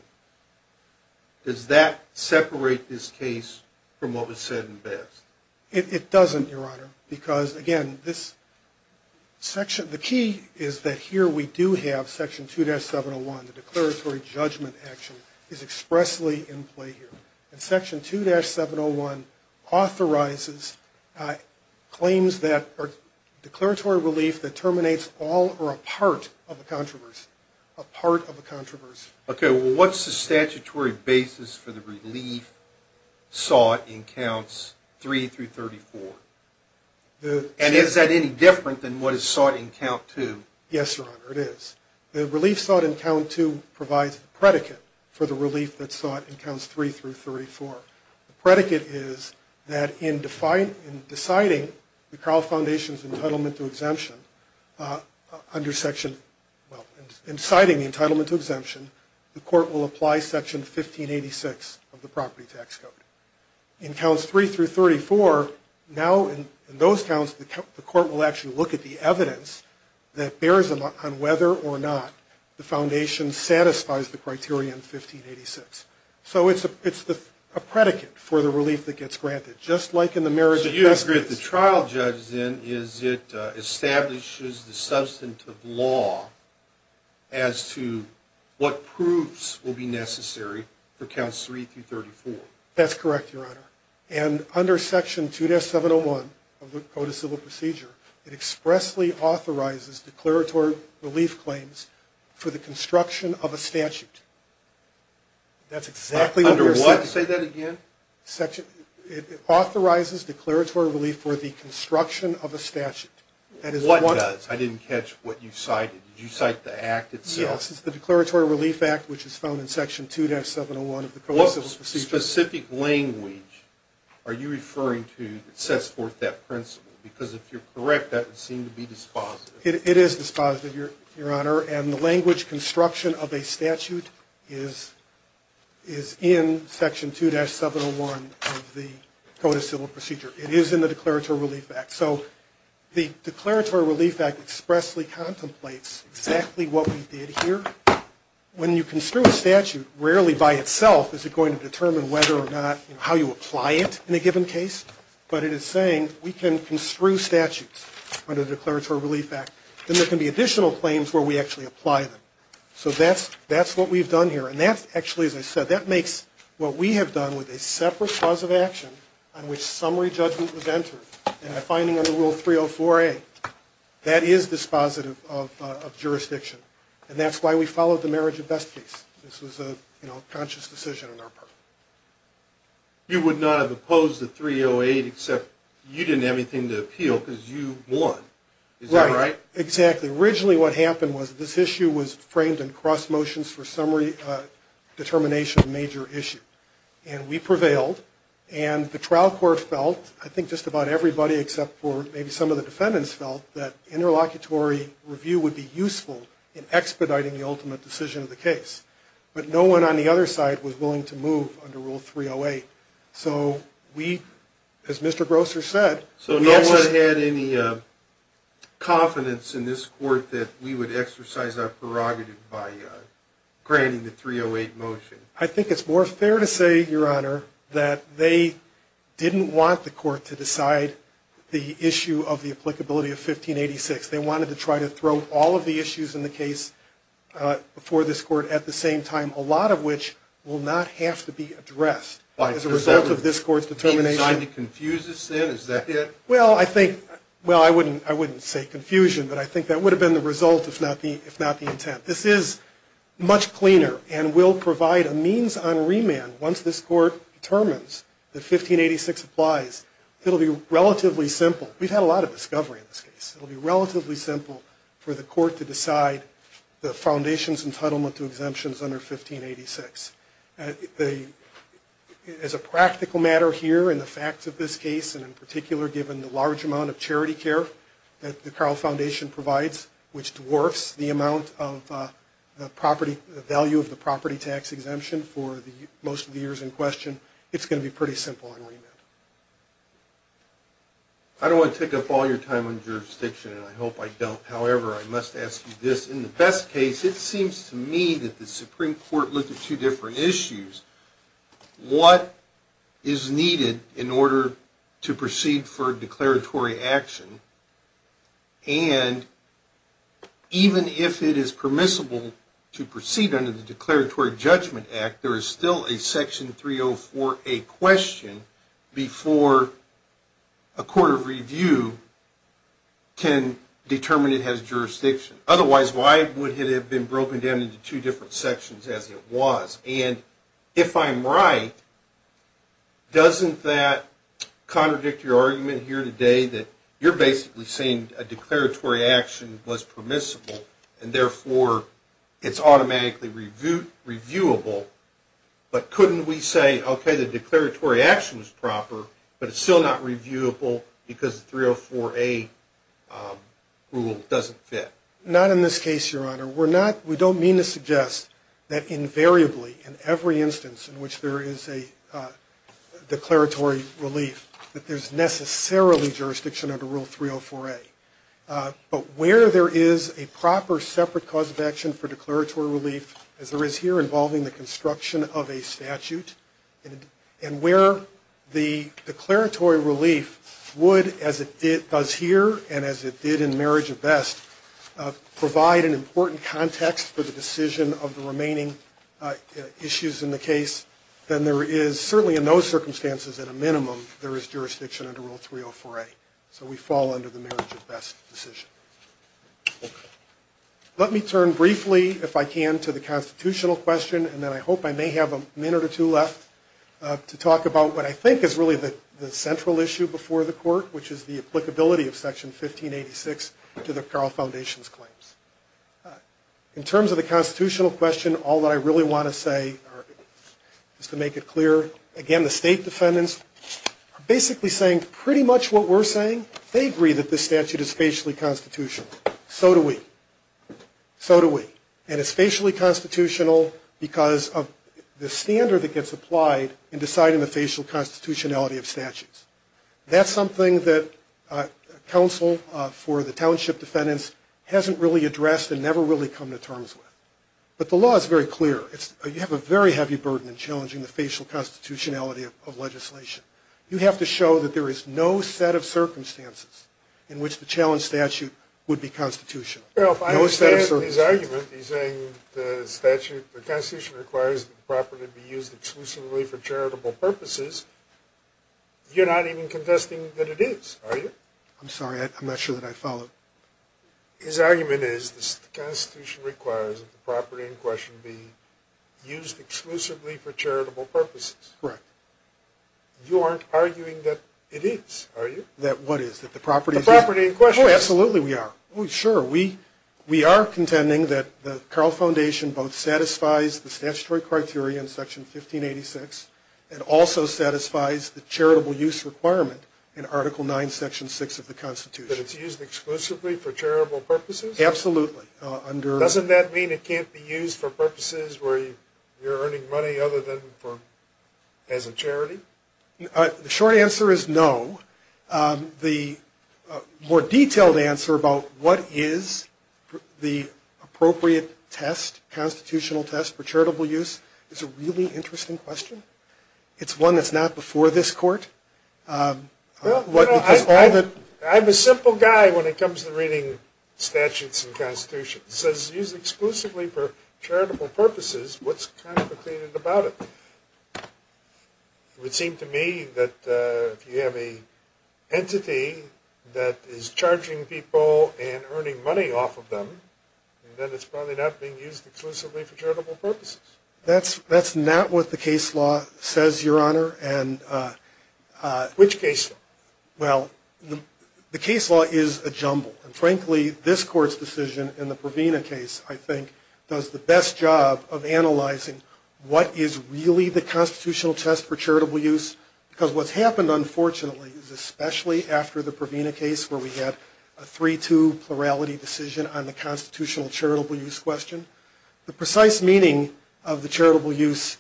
Does that separate this case from what was said in the best? It doesn't, Your Honor, because, again, this section, the key is that here we do have Section 2-701, the declaratory judgment action, is expressly in play here. And Section 2-701 authorizes claims that are declaratory relief that terminates all or a part of a controversy, a part of a controversy. Okay, well, what's the statutory basis for the relief sought in Counts 3-34? And is that any different than what is sought in Count 2? Yes, Your Honor, it is. The relief sought in Count 2 provides the predicate for the relief that's sought in Counts 3-34. The predicate is that in deciding the entitlement to exemption under Section, well, in citing the entitlement to exemption, the court will apply Section 1586 of the Property Tax Code. In Counts 3-34, now in those counts, the court will actually look at the evidence that bears on whether or not the foundation satisfies the criteria in 1586. So it's a predicate for the relief that gets granted, just like in the marriage of testaments. So you agree that the trial judge, then, is it establishes the substantive law as to what proofs will be necessary for Counts 3-34? That's correct, Your Honor. And under Section 2-701 of the Code of Civil Procedure, it expressly authorizes declaratory relief claims for the construction of a statute. Under what? Say that again? It authorizes declaratory relief for the construction of a statute. What does? I didn't catch what you cited. Did you cite the Act itself? Yes, it's the Declaratory Relief Act, which is found in Section 2-701 of the Code of Civil Procedure. What specific language are you referring to that sets forth that principle? Because if you're correct, that would seem to be dispositive. It is dispositive, Your Honor. And the language construction of a statute is in Section 2-701 of the Code of Civil Procedure. It is in the Declaratory Relief Act. So the Declaratory Relief Act expressly contemplates exactly what we did here. When you construe a statute, rarely by itself is it going to determine whether or not, how you apply it in a given case. But it is saying we can construe statutes under the Declaratory Relief Act. Then there can be additional claims where we actually apply them. So that's what we've done here. And that's actually, as I said, that makes what we have done with a separate cause of action on which summary judgment was entered in a finding under Rule 304A. That is dispositive of jurisdiction. And that's why we followed the marriage of best case. This was a conscious decision on our part. You would not have opposed the 308 except you didn't have anything to appeal because you won. Is that right? Right. Exactly. Originally what happened was this issue was framed in cross motions for summary determination, a major issue. And we prevailed. And the trial court felt, I think just about everybody except for maybe some of the defendants felt, that interlocutory review would be useful in expediting the ultimate decision of the case. But no one on the other side was willing to move under Rule 308. So we, as Mr. Grosser said... So no one had any confidence in this court that we would exercise our prerogative by granting the 308 motion. I think it's more fair to say, Your Honor, that they didn't want the court to decide the issue of the applicability of 1586. They wanted to try to throw all of the issues in the case before this court at the same time, a lot of which will not have to be addressed as a result of this court's determination. Are you trying to confuse us then? Is that it? Well, I think, well, I wouldn't say confusion, but I think that would have been the result if not the intent. This is much cleaner and will provide a means on remand once this court determines that 1586 applies. It'll be relatively simple. We've had a lot of discovery in this case. It'll be relatively simple for the court to decide the foundation's entitlement to exemptions under 1586. As a practical matter here, in the facts of this case, and in particular given the large amount of charity care that the Carle Foundation provides, which dwarfs the value of the property tax exemption for most of the years in question, it's going to be pretty simple on remand. I don't want to take up all your time on jurisdiction, and I hope I don't. However, I must ask you this. In the best case, it seems to me that the Supreme Court looked at two different issues. What is needed in order to proceed for declaratory action? And even if it is permissible to proceed under the Declaratory Judgment Act, there is still a Section 304A question before a court of review can determine it has jurisdiction. Otherwise, why would it have been broken down into two different sections as it was? And if I'm right, doesn't that contradict your argument here today that you're basically saying a declaratory action was permissible, and therefore it's automatically reviewable? But couldn't we say, okay, the declaratory action was proper, but it's still not reviewable because the 304A rule doesn't fit? Not in this case, Your Honor. We don't mean to suggest that invariably in every instance in which there is a declaratory relief that there's necessarily jurisdiction under Rule 304A. But where there is a proper separate cause of action for declaratory relief, as there is here involving the construction of a statute, and where the declaratory relief would, as it does here and as it did in Marriage of Best, provide an important context for the decision of the remaining issues in the case, then there is, certainly in those circumstances at a minimum, there is jurisdiction under Rule 304A. So we fall under the Marriage of Best decision. Let me turn briefly, if I can, to the constitutional question, and then I hope I may have a minute or two left to talk about what I think is really the central issue before the court, which is the applicability of Section 1586 to the Carle Foundation's claims. In terms of the constitutional question, all that I really want to say, just to make it clear, again, the state defendants are basically saying pretty much what we're saying. They agree that this statute is facially constitutional. So do we. So do we. And it's facially constitutional because of the standard that gets applied in deciding the facial constitutionality of statutes. That's something that counsel for the township defendants hasn't really addressed and never really come to terms with. But the law is very clear. You have a very heavy burden in challenging the facial constitutionality of legislation. You have to show that there is no set of circumstances in which the challenged statute would be constitutional. No set of circumstances. Well, if I understand his argument, he's saying the statute, the Constitution requires that the property be used exclusively for charitable purposes. You're not even contesting that it is, are you? I'm sorry. I'm not sure that I followed. His argument is the Constitution requires that the property in question be used exclusively for charitable purposes. Correct. You aren't arguing that it is, are you? That what is? That the property is used? The property in question. Oh, absolutely we are. Oh, sure. We are contending that the Carl Foundation both satisfies the statutory criteria in Section 1586 and also satisfies the charitable use requirement in Article 9, Section 6 of the Constitution. That it's used exclusively for charitable purposes? Absolutely. Doesn't that mean it can't be used for purposes where you're earning money other than as a charity? The short answer is no. The more detailed answer about what is the appropriate test, constitutional test for charitable use, is a really interesting question. It's one that's not before this Court. I'm a simple guy when it comes to reading statutes and constitutions. It says it's used exclusively for charitable purposes. What's complicated about it? It would seem to me that if you have an entity that is charging people and earning money off of them, then it's probably not being used exclusively for charitable purposes. That's not what the case law says, Your Honor. Which case law? Well, the case law is a jumble. And frankly, this Court's decision in the Provena case, I think, does the best job of analyzing what is really the constitutional test for charitable use. Because what's happened, unfortunately, is especially after the Provena case, where we had a 3-2 plurality decision on the constitutional charitable use question, the precise meaning of the charitable use,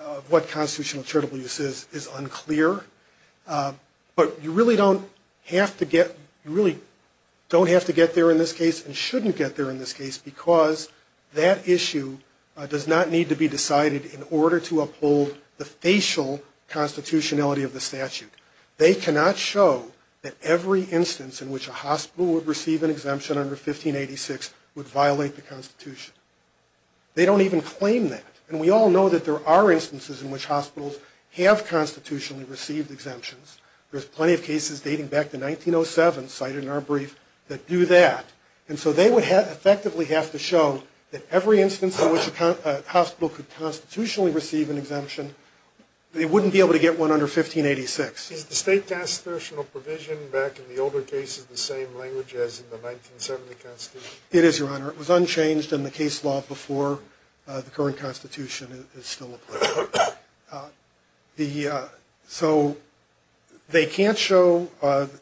of what constitutional charitable use is, is unclear. But you really don't have to get there in this case and shouldn't get there in this case, because that issue does not need to be decided in order to uphold the facial constitutionality of the statute. They cannot show that every instance in which a hospital would receive an exemption under 1586 would violate the Constitution. They don't even claim that. And we all know that there are instances in which hospitals have constitutionally received exemptions. There's plenty of cases dating back to 1907, cited in our brief, that do that. And so they would effectively have to show that every instance in which a hospital could constitutionally receive an exemption, they wouldn't be able to get one under 1586. Is the state constitutional provision back in the older cases the same language as in the 1970 Constitution? It is, Your Honor. It was unchanged in the case law before the current Constitution is still in place. So they can't show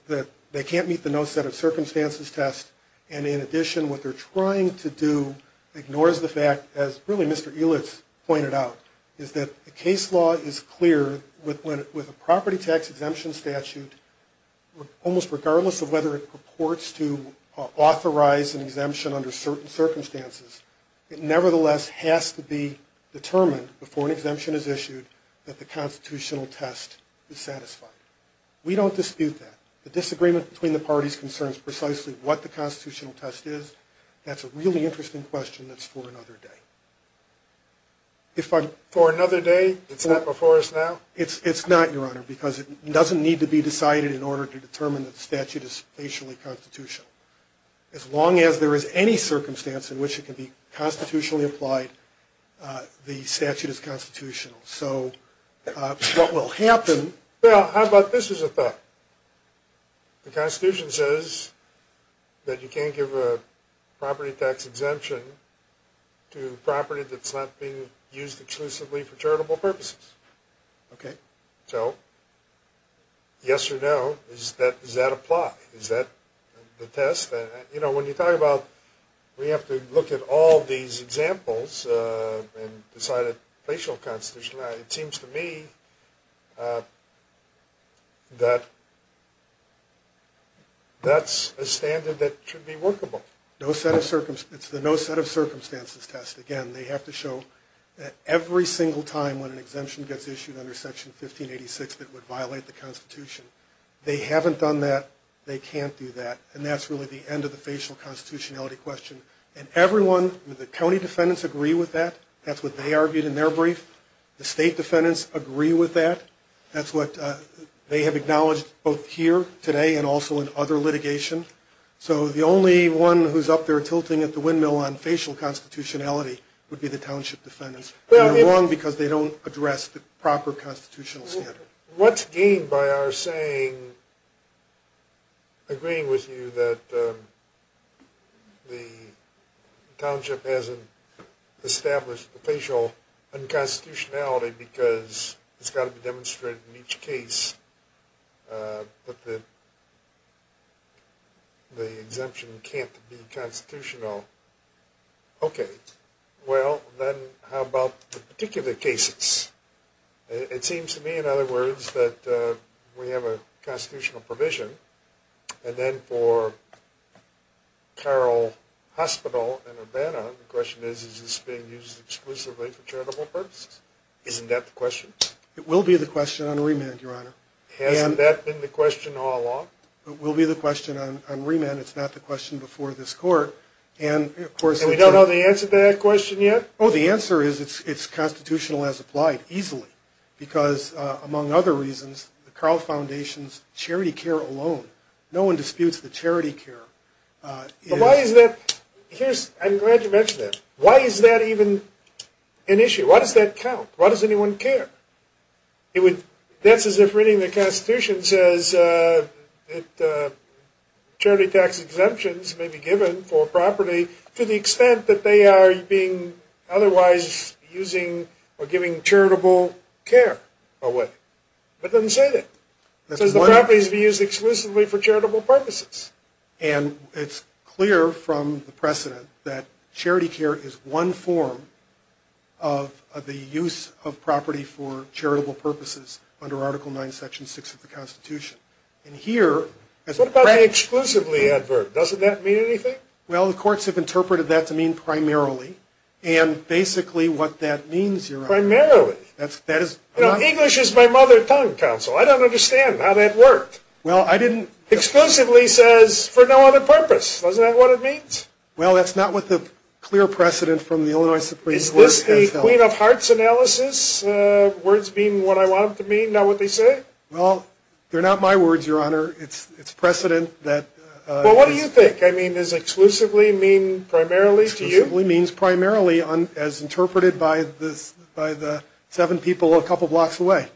that they can't meet the no set of circumstances test. And in addition, what they're trying to do ignores the fact, as really Mr. Elitz pointed out, is that the case law is clear with a property tax exemption statute, and almost regardless of whether it purports to authorize an exemption under certain circumstances, it nevertheless has to be determined before an exemption is issued that the constitutional test is satisfied. We don't dispute that. The disagreement between the parties concerns precisely what the constitutional test is. That's a really interesting question that's for another day. For another day? It's not before us now? It's not, Your Honor, because it doesn't need to be decided in order to determine that the statute is spatially constitutional. As long as there is any circumstance in which it can be constitutionally applied, the statute is constitutional. So what will happen – Well, how about this as a fact? The Constitution says that you can't give a property tax exemption to property that's not being used exclusively for charitable purposes. Okay. So yes or no, does that apply? Is that the test? You know, when you talk about we have to look at all these examples and decide a spatial constitution, it seems to me that that's a standard that should be workable. It's the no set of circumstances test. Again, they have to show that every single time when an exemption gets issued under Section 1586 that would violate the Constitution, they haven't done that, they can't do that, and that's really the end of the facial constitutionality question. And everyone, the county defendants agree with that. That's what they argued in their brief. The state defendants agree with that. That's what they have acknowledged both here today and also in other litigation. So the only one who's up there tilting at the windmill on facial constitutionality would be the township defendants. They're wrong because they don't address the proper constitutional standard. What's gained by our saying, agreeing with you that the township hasn't established the facial unconstitutionality because it's got to be demonstrated in each case, but the exemption can't be constitutional. Okay. Well, then how about the particular cases? It seems to me, in other words, that we have a constitutional provision, and then for Carroll Hospital in Urbana, is this being used exclusively for charitable purposes? Isn't that the question? It will be the question on remand, Your Honor. Hasn't that been the question all along? It will be the question on remand. It's not the question before this court. And we don't know the answer to that question yet? Oh, the answer is it's constitutional as applied, easily, because among other reasons, the Carroll Foundation's charity care alone, no one disputes the charity care. But why is that? I'm glad you mentioned that. Why is that even an issue? Why does that count? Why does anyone care? That's as if reading the Constitution says that charity tax exemptions may be given for a property to the extent that they are being otherwise using or giving charitable care. But it doesn't say that. It says the property is being used exclusively for charitable purposes. And it's clear from the precedent that charity care is one form of the use of property for charitable purposes under Article IX, Section 6 of the Constitution. What about the exclusively adverb? Doesn't that mean anything? Well, the courts have interpreted that to mean primarily. And basically what that means, Your Honor. Primarily? English is my mother tongue, counsel. I don't understand how that worked. Well, I didn't... Exclusively says for no other purpose. Isn't that what it means? Well, that's not what the clear precedent from the Illinois Supreme Court has held. Is this a Queen of Hearts analysis, words being what I want them to mean, not what they say? Well, they're not my words, Your Honor. It's precedent that... Well, what do you think? I mean, does exclusively mean primarily to you? Exclusively means primarily as interpreted by the seven people a couple blocks away.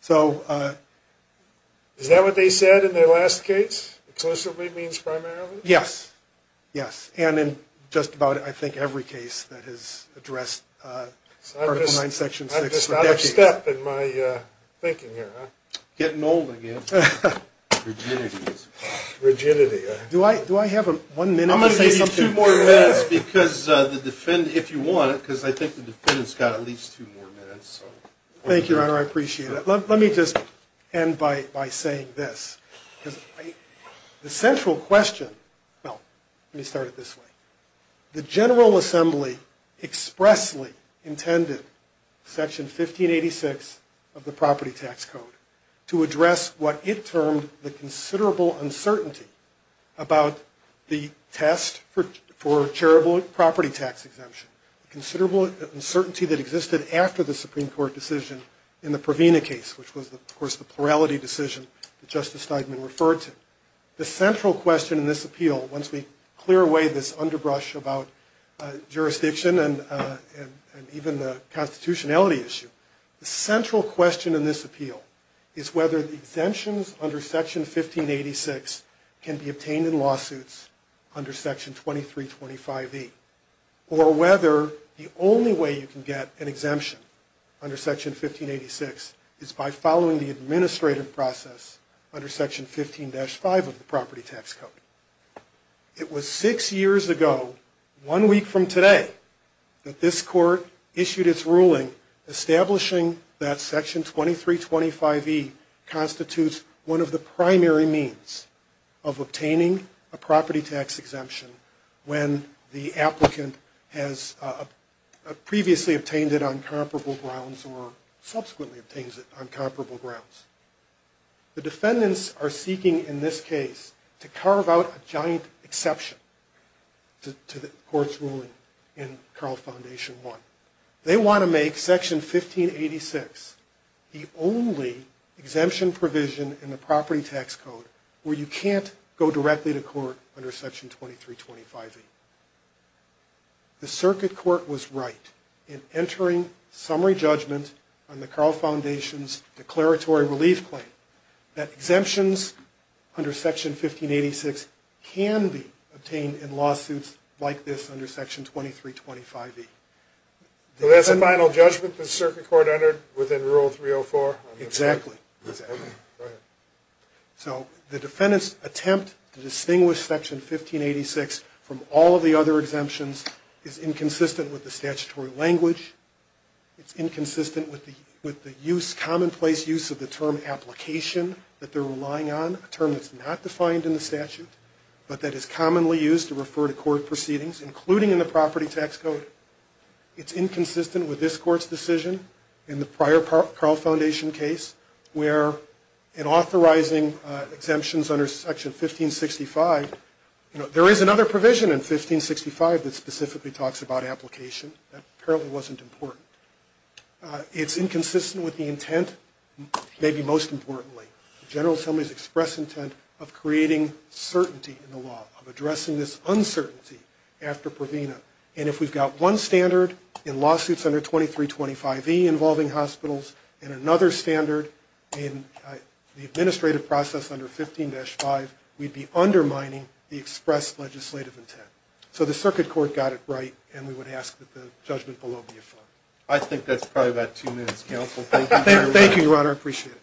So... Is that what they said in their last case? Exclusively means primarily? Yes. Yes. And in just about, I think, every case that has addressed Article IX, Section 6. I'm just out of step in my thinking here, huh? Getting old again. Rigidity. Rigidity. Do I have one minute to say something? I'm going to give you two more minutes because the defendant, if you want it, because I think the defendant's got at least two more minutes. Thank you, Your Honor. I appreciate it. Let me just end by saying this. The central question... Well, let me start it this way. The General Assembly expressly intended Section 1586 of the Property Tax Code to address what it termed the considerable uncertainty about the test for charitable property tax exemption. Considerable uncertainty that existed after the Supreme Court decision in the Provena case, which was, of course, the plurality decision that Justice Steigman referred to. The central question in this appeal, once we clear away this underbrush about jurisdiction and even the constitutionality issue, the central question in this appeal is whether the exemptions under Section 1586 can be obtained in lawsuits under Section 2325E or whether the only way you can get an exemption under Section 1586 is by following the administrative process under Section 15-5 of the Property Tax Code. It was six years ago, one week from today, that this Court issued its ruling establishing that Section 2325E constitutes one of the primary means of obtaining a property tax exemption when the applicant has previously obtained it on comparable grounds or subsequently obtains it on comparable grounds. The defendants are seeking, in this case, to carve out a giant exception to the Court's ruling in Carl Foundation I. They want to make Section 1586 the only exemption provision in the Property Tax Code where you can't go directly to court under Section 2325E. The Circuit Court was right in entering summary judgment on the Carl Foundation's declaratory relief claim that exemptions under Section 1586 can be obtained in lawsuits like this under Section 2325E. So that's the final judgment the Circuit Court entered within Rule 304? Exactly. Okay, go ahead. So the defendants' attempt to distinguish Section 1586 from all of the other exemptions is inconsistent with the statutory language. It's inconsistent with the commonplace use of the term application that they're relying on, a term that's not defined in the statute but that is commonly used to refer to court proceedings, including in the Property Tax Code. It's inconsistent with this Court's decision in the prior Carl Foundation case where in authorizing exemptions under Section 1565, there is another provision in 1565 that specifically talks about application that apparently wasn't important. It's inconsistent with the intent, maybe most importantly, the General Assembly's express intent of creating certainty in the law, of addressing this uncertainty after provena. And if we've got one standard in lawsuits under 2325E involving hospitals and another standard in the administrative process under 15-5, we'd be undermining the express legislative intent. So the Circuit Court got it right, and we would ask that the judgment below be affirmed. I think that's probably about two minutes, counsel. Thank you, Your Honor. Thank you, Your Honor. I appreciate it.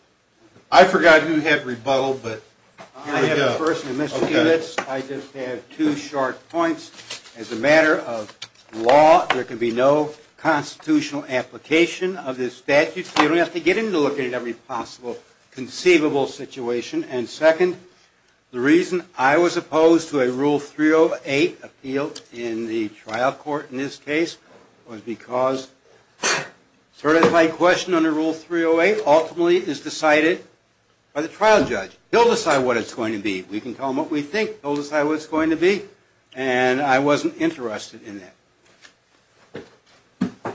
I forgot who had rebuttal, but here we go. I have a person who missed a few minutes. I just have two short points. As a matter of law, there can be no constitutional application of this statute, so you don't have to get into looking at every possible conceivable situation. And second, the reason I was opposed to a Rule 308 appeal in the trial court in this case was because a certified question under Rule 308 ultimately is decided by the trial judge. He'll decide what it's going to be. We can tell him what we think. He'll decide what it's going to be. And I wasn't interested in that. A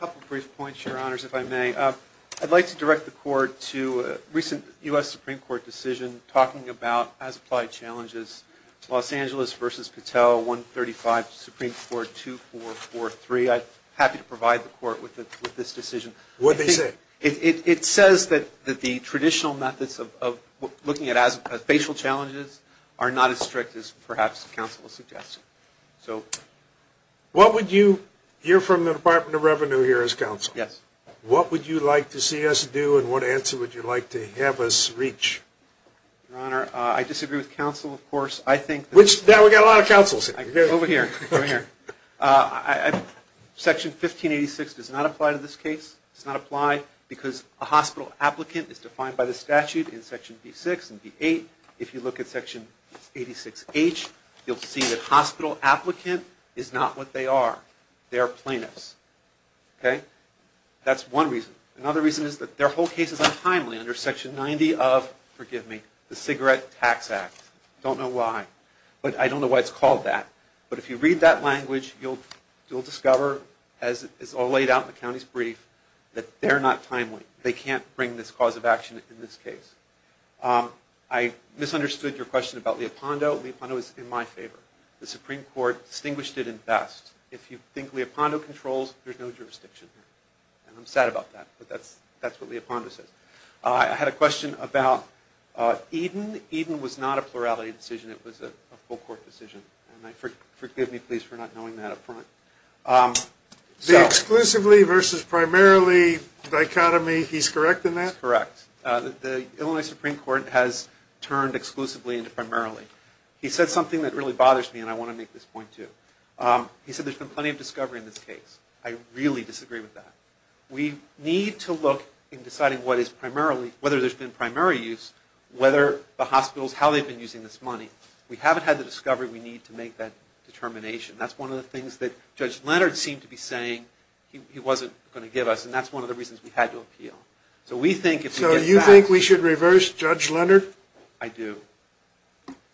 couple brief points, Your Honors, if I may. I'd like to direct the Court to a recent U.S. Supreme Court decision talking about as-applied challenges, Los Angeles v. Patel, 135, Supreme Court 2443. I'm happy to provide the Court with this decision. What did they say? It says that the traditional methods of looking at as-applied challenges are not as strict as perhaps counsel suggested. You're from the Department of Revenue here as counsel. Yes. What would you like to see us do and what answer would you like to have us reach? Your Honor, I disagree with counsel, of course. Which, now we've got a lot of counsel sitting here. Over here, over here. Section 1586 does not apply to this case. It does not apply because a hospital applicant is defined by the statute in Section B6 and B8. If you look at Section 86H, you'll see that hospital applicant is not what they are. They are plaintiffs. Okay? That's one reason. Another reason is that their whole case is untimely under Section 90 of, forgive me, the Cigarette Tax Act. Don't know why. But I don't know why it's called that. But if you read that language, you'll discover, as is all laid out in the county's brief, that they're not timely. They can't bring this cause of action in this case. I misunderstood your question about Leopondo. Leopondo is in my favor. The Supreme Court distinguished it in best. If you think Leopondo controls, there's no jurisdiction. And I'm sad about that, but that's what Leopondo says. I had a question about Eden. Eden was not a plurality decision. It was a full court decision. And forgive me, please, for not knowing that up front. The exclusively versus primarily dichotomy, he's correct in that? Correct. The Illinois Supreme Court has turned exclusively into primarily. He said something that really bothers me, and I want to make this point, too. He said there's been plenty of discovery in this case. I really disagree with that. We need to look in deciding what is primarily, whether there's been primary use, whether the hospitals, how they've been using this money. We haven't had the discovery we need to make that determination. That's one of the things that Judge Leonard seemed to be saying he wasn't going to give us, and that's one of the reasons we had to appeal. So you think we should reverse Judge Leonard? I do,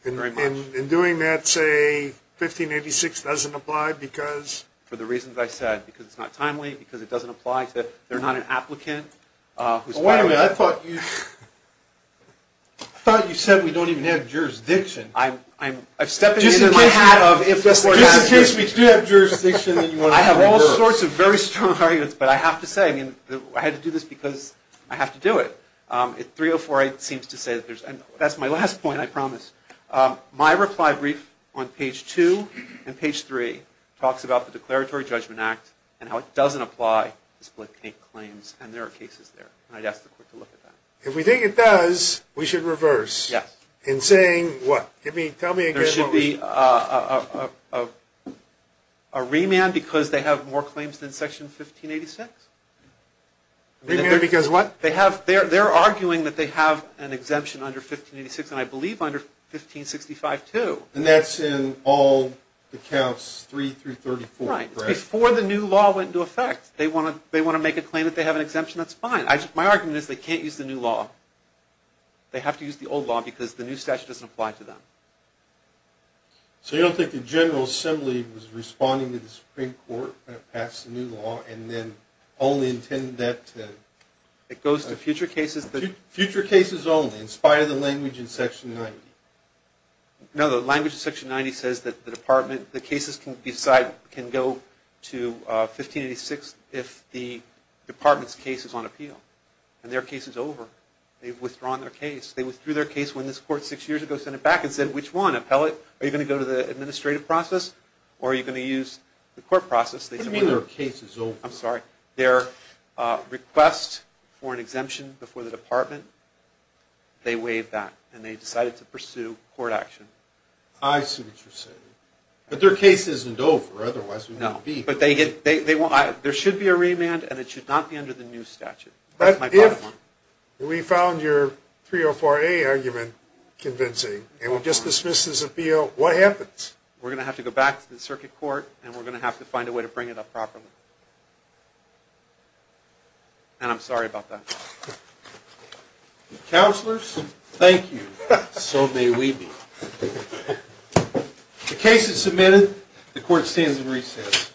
very much. In doing that, say, 1586 doesn't apply because? For the reasons I said. Because it's not timely, because it doesn't apply to, they're not an applicant. Wait a minute. I thought you said we don't even have jurisdiction. I'm stepping into the hat of if that's the case, we do have jurisdiction. I have all sorts of very strong arguments, but I have to say, I had to do this because I have to do it. 3048 seems to say, and that's my last point, I promise. My reply brief on page 2 and page 3 talks about the Declaratory Judgment Act and how it doesn't apply to split-take claims, and there are cases there. I'd ask the Court to look at that. If we think it does, we should reverse. Yes. In saying what? There should be a remand because they have more claims than Section 1586? Remand because what? They're arguing that they have an exemption under 1586, and I believe under 1565 too. And that's in all the counts 3 through 34, correct? Right. It's before the new law went into effect. They want to make a claim that they have an exemption. That's fine. My argument is they can't use the new law. They have to use the old law because the new statute doesn't apply to them. So you don't think the General Assembly was responding to the Supreme Court when it passed the new law and then only intended that to? It goes to future cases. Future cases only in spite of the language in Section 90? No, the language in Section 90 says that the cases can go to 1586 if the department's case is on appeal, and their case is over. They've withdrawn their case. They withdrew their case when this Court six years ago sent it back and said, which one, appellate? Are you going to go to the administrative process or are you going to use the court process? What do you mean their case is over? I'm sorry. Their request for an exemption before the department, they waived that, and they decided to pursue court action. I see what you're saying. But their case isn't over, otherwise we wouldn't be here. No, but there should be a remand, and it should not be under the new statute. That's my bottom line. But if we found your 304A argument convincing, and it just dismisses appeal, what happens? We're going to have to go back to the circuit court, and we're going to have to find a way to bring it up properly. And I'm sorry about that. Counselors, thank you. So may we be. The case is submitted. The Court stands in recess.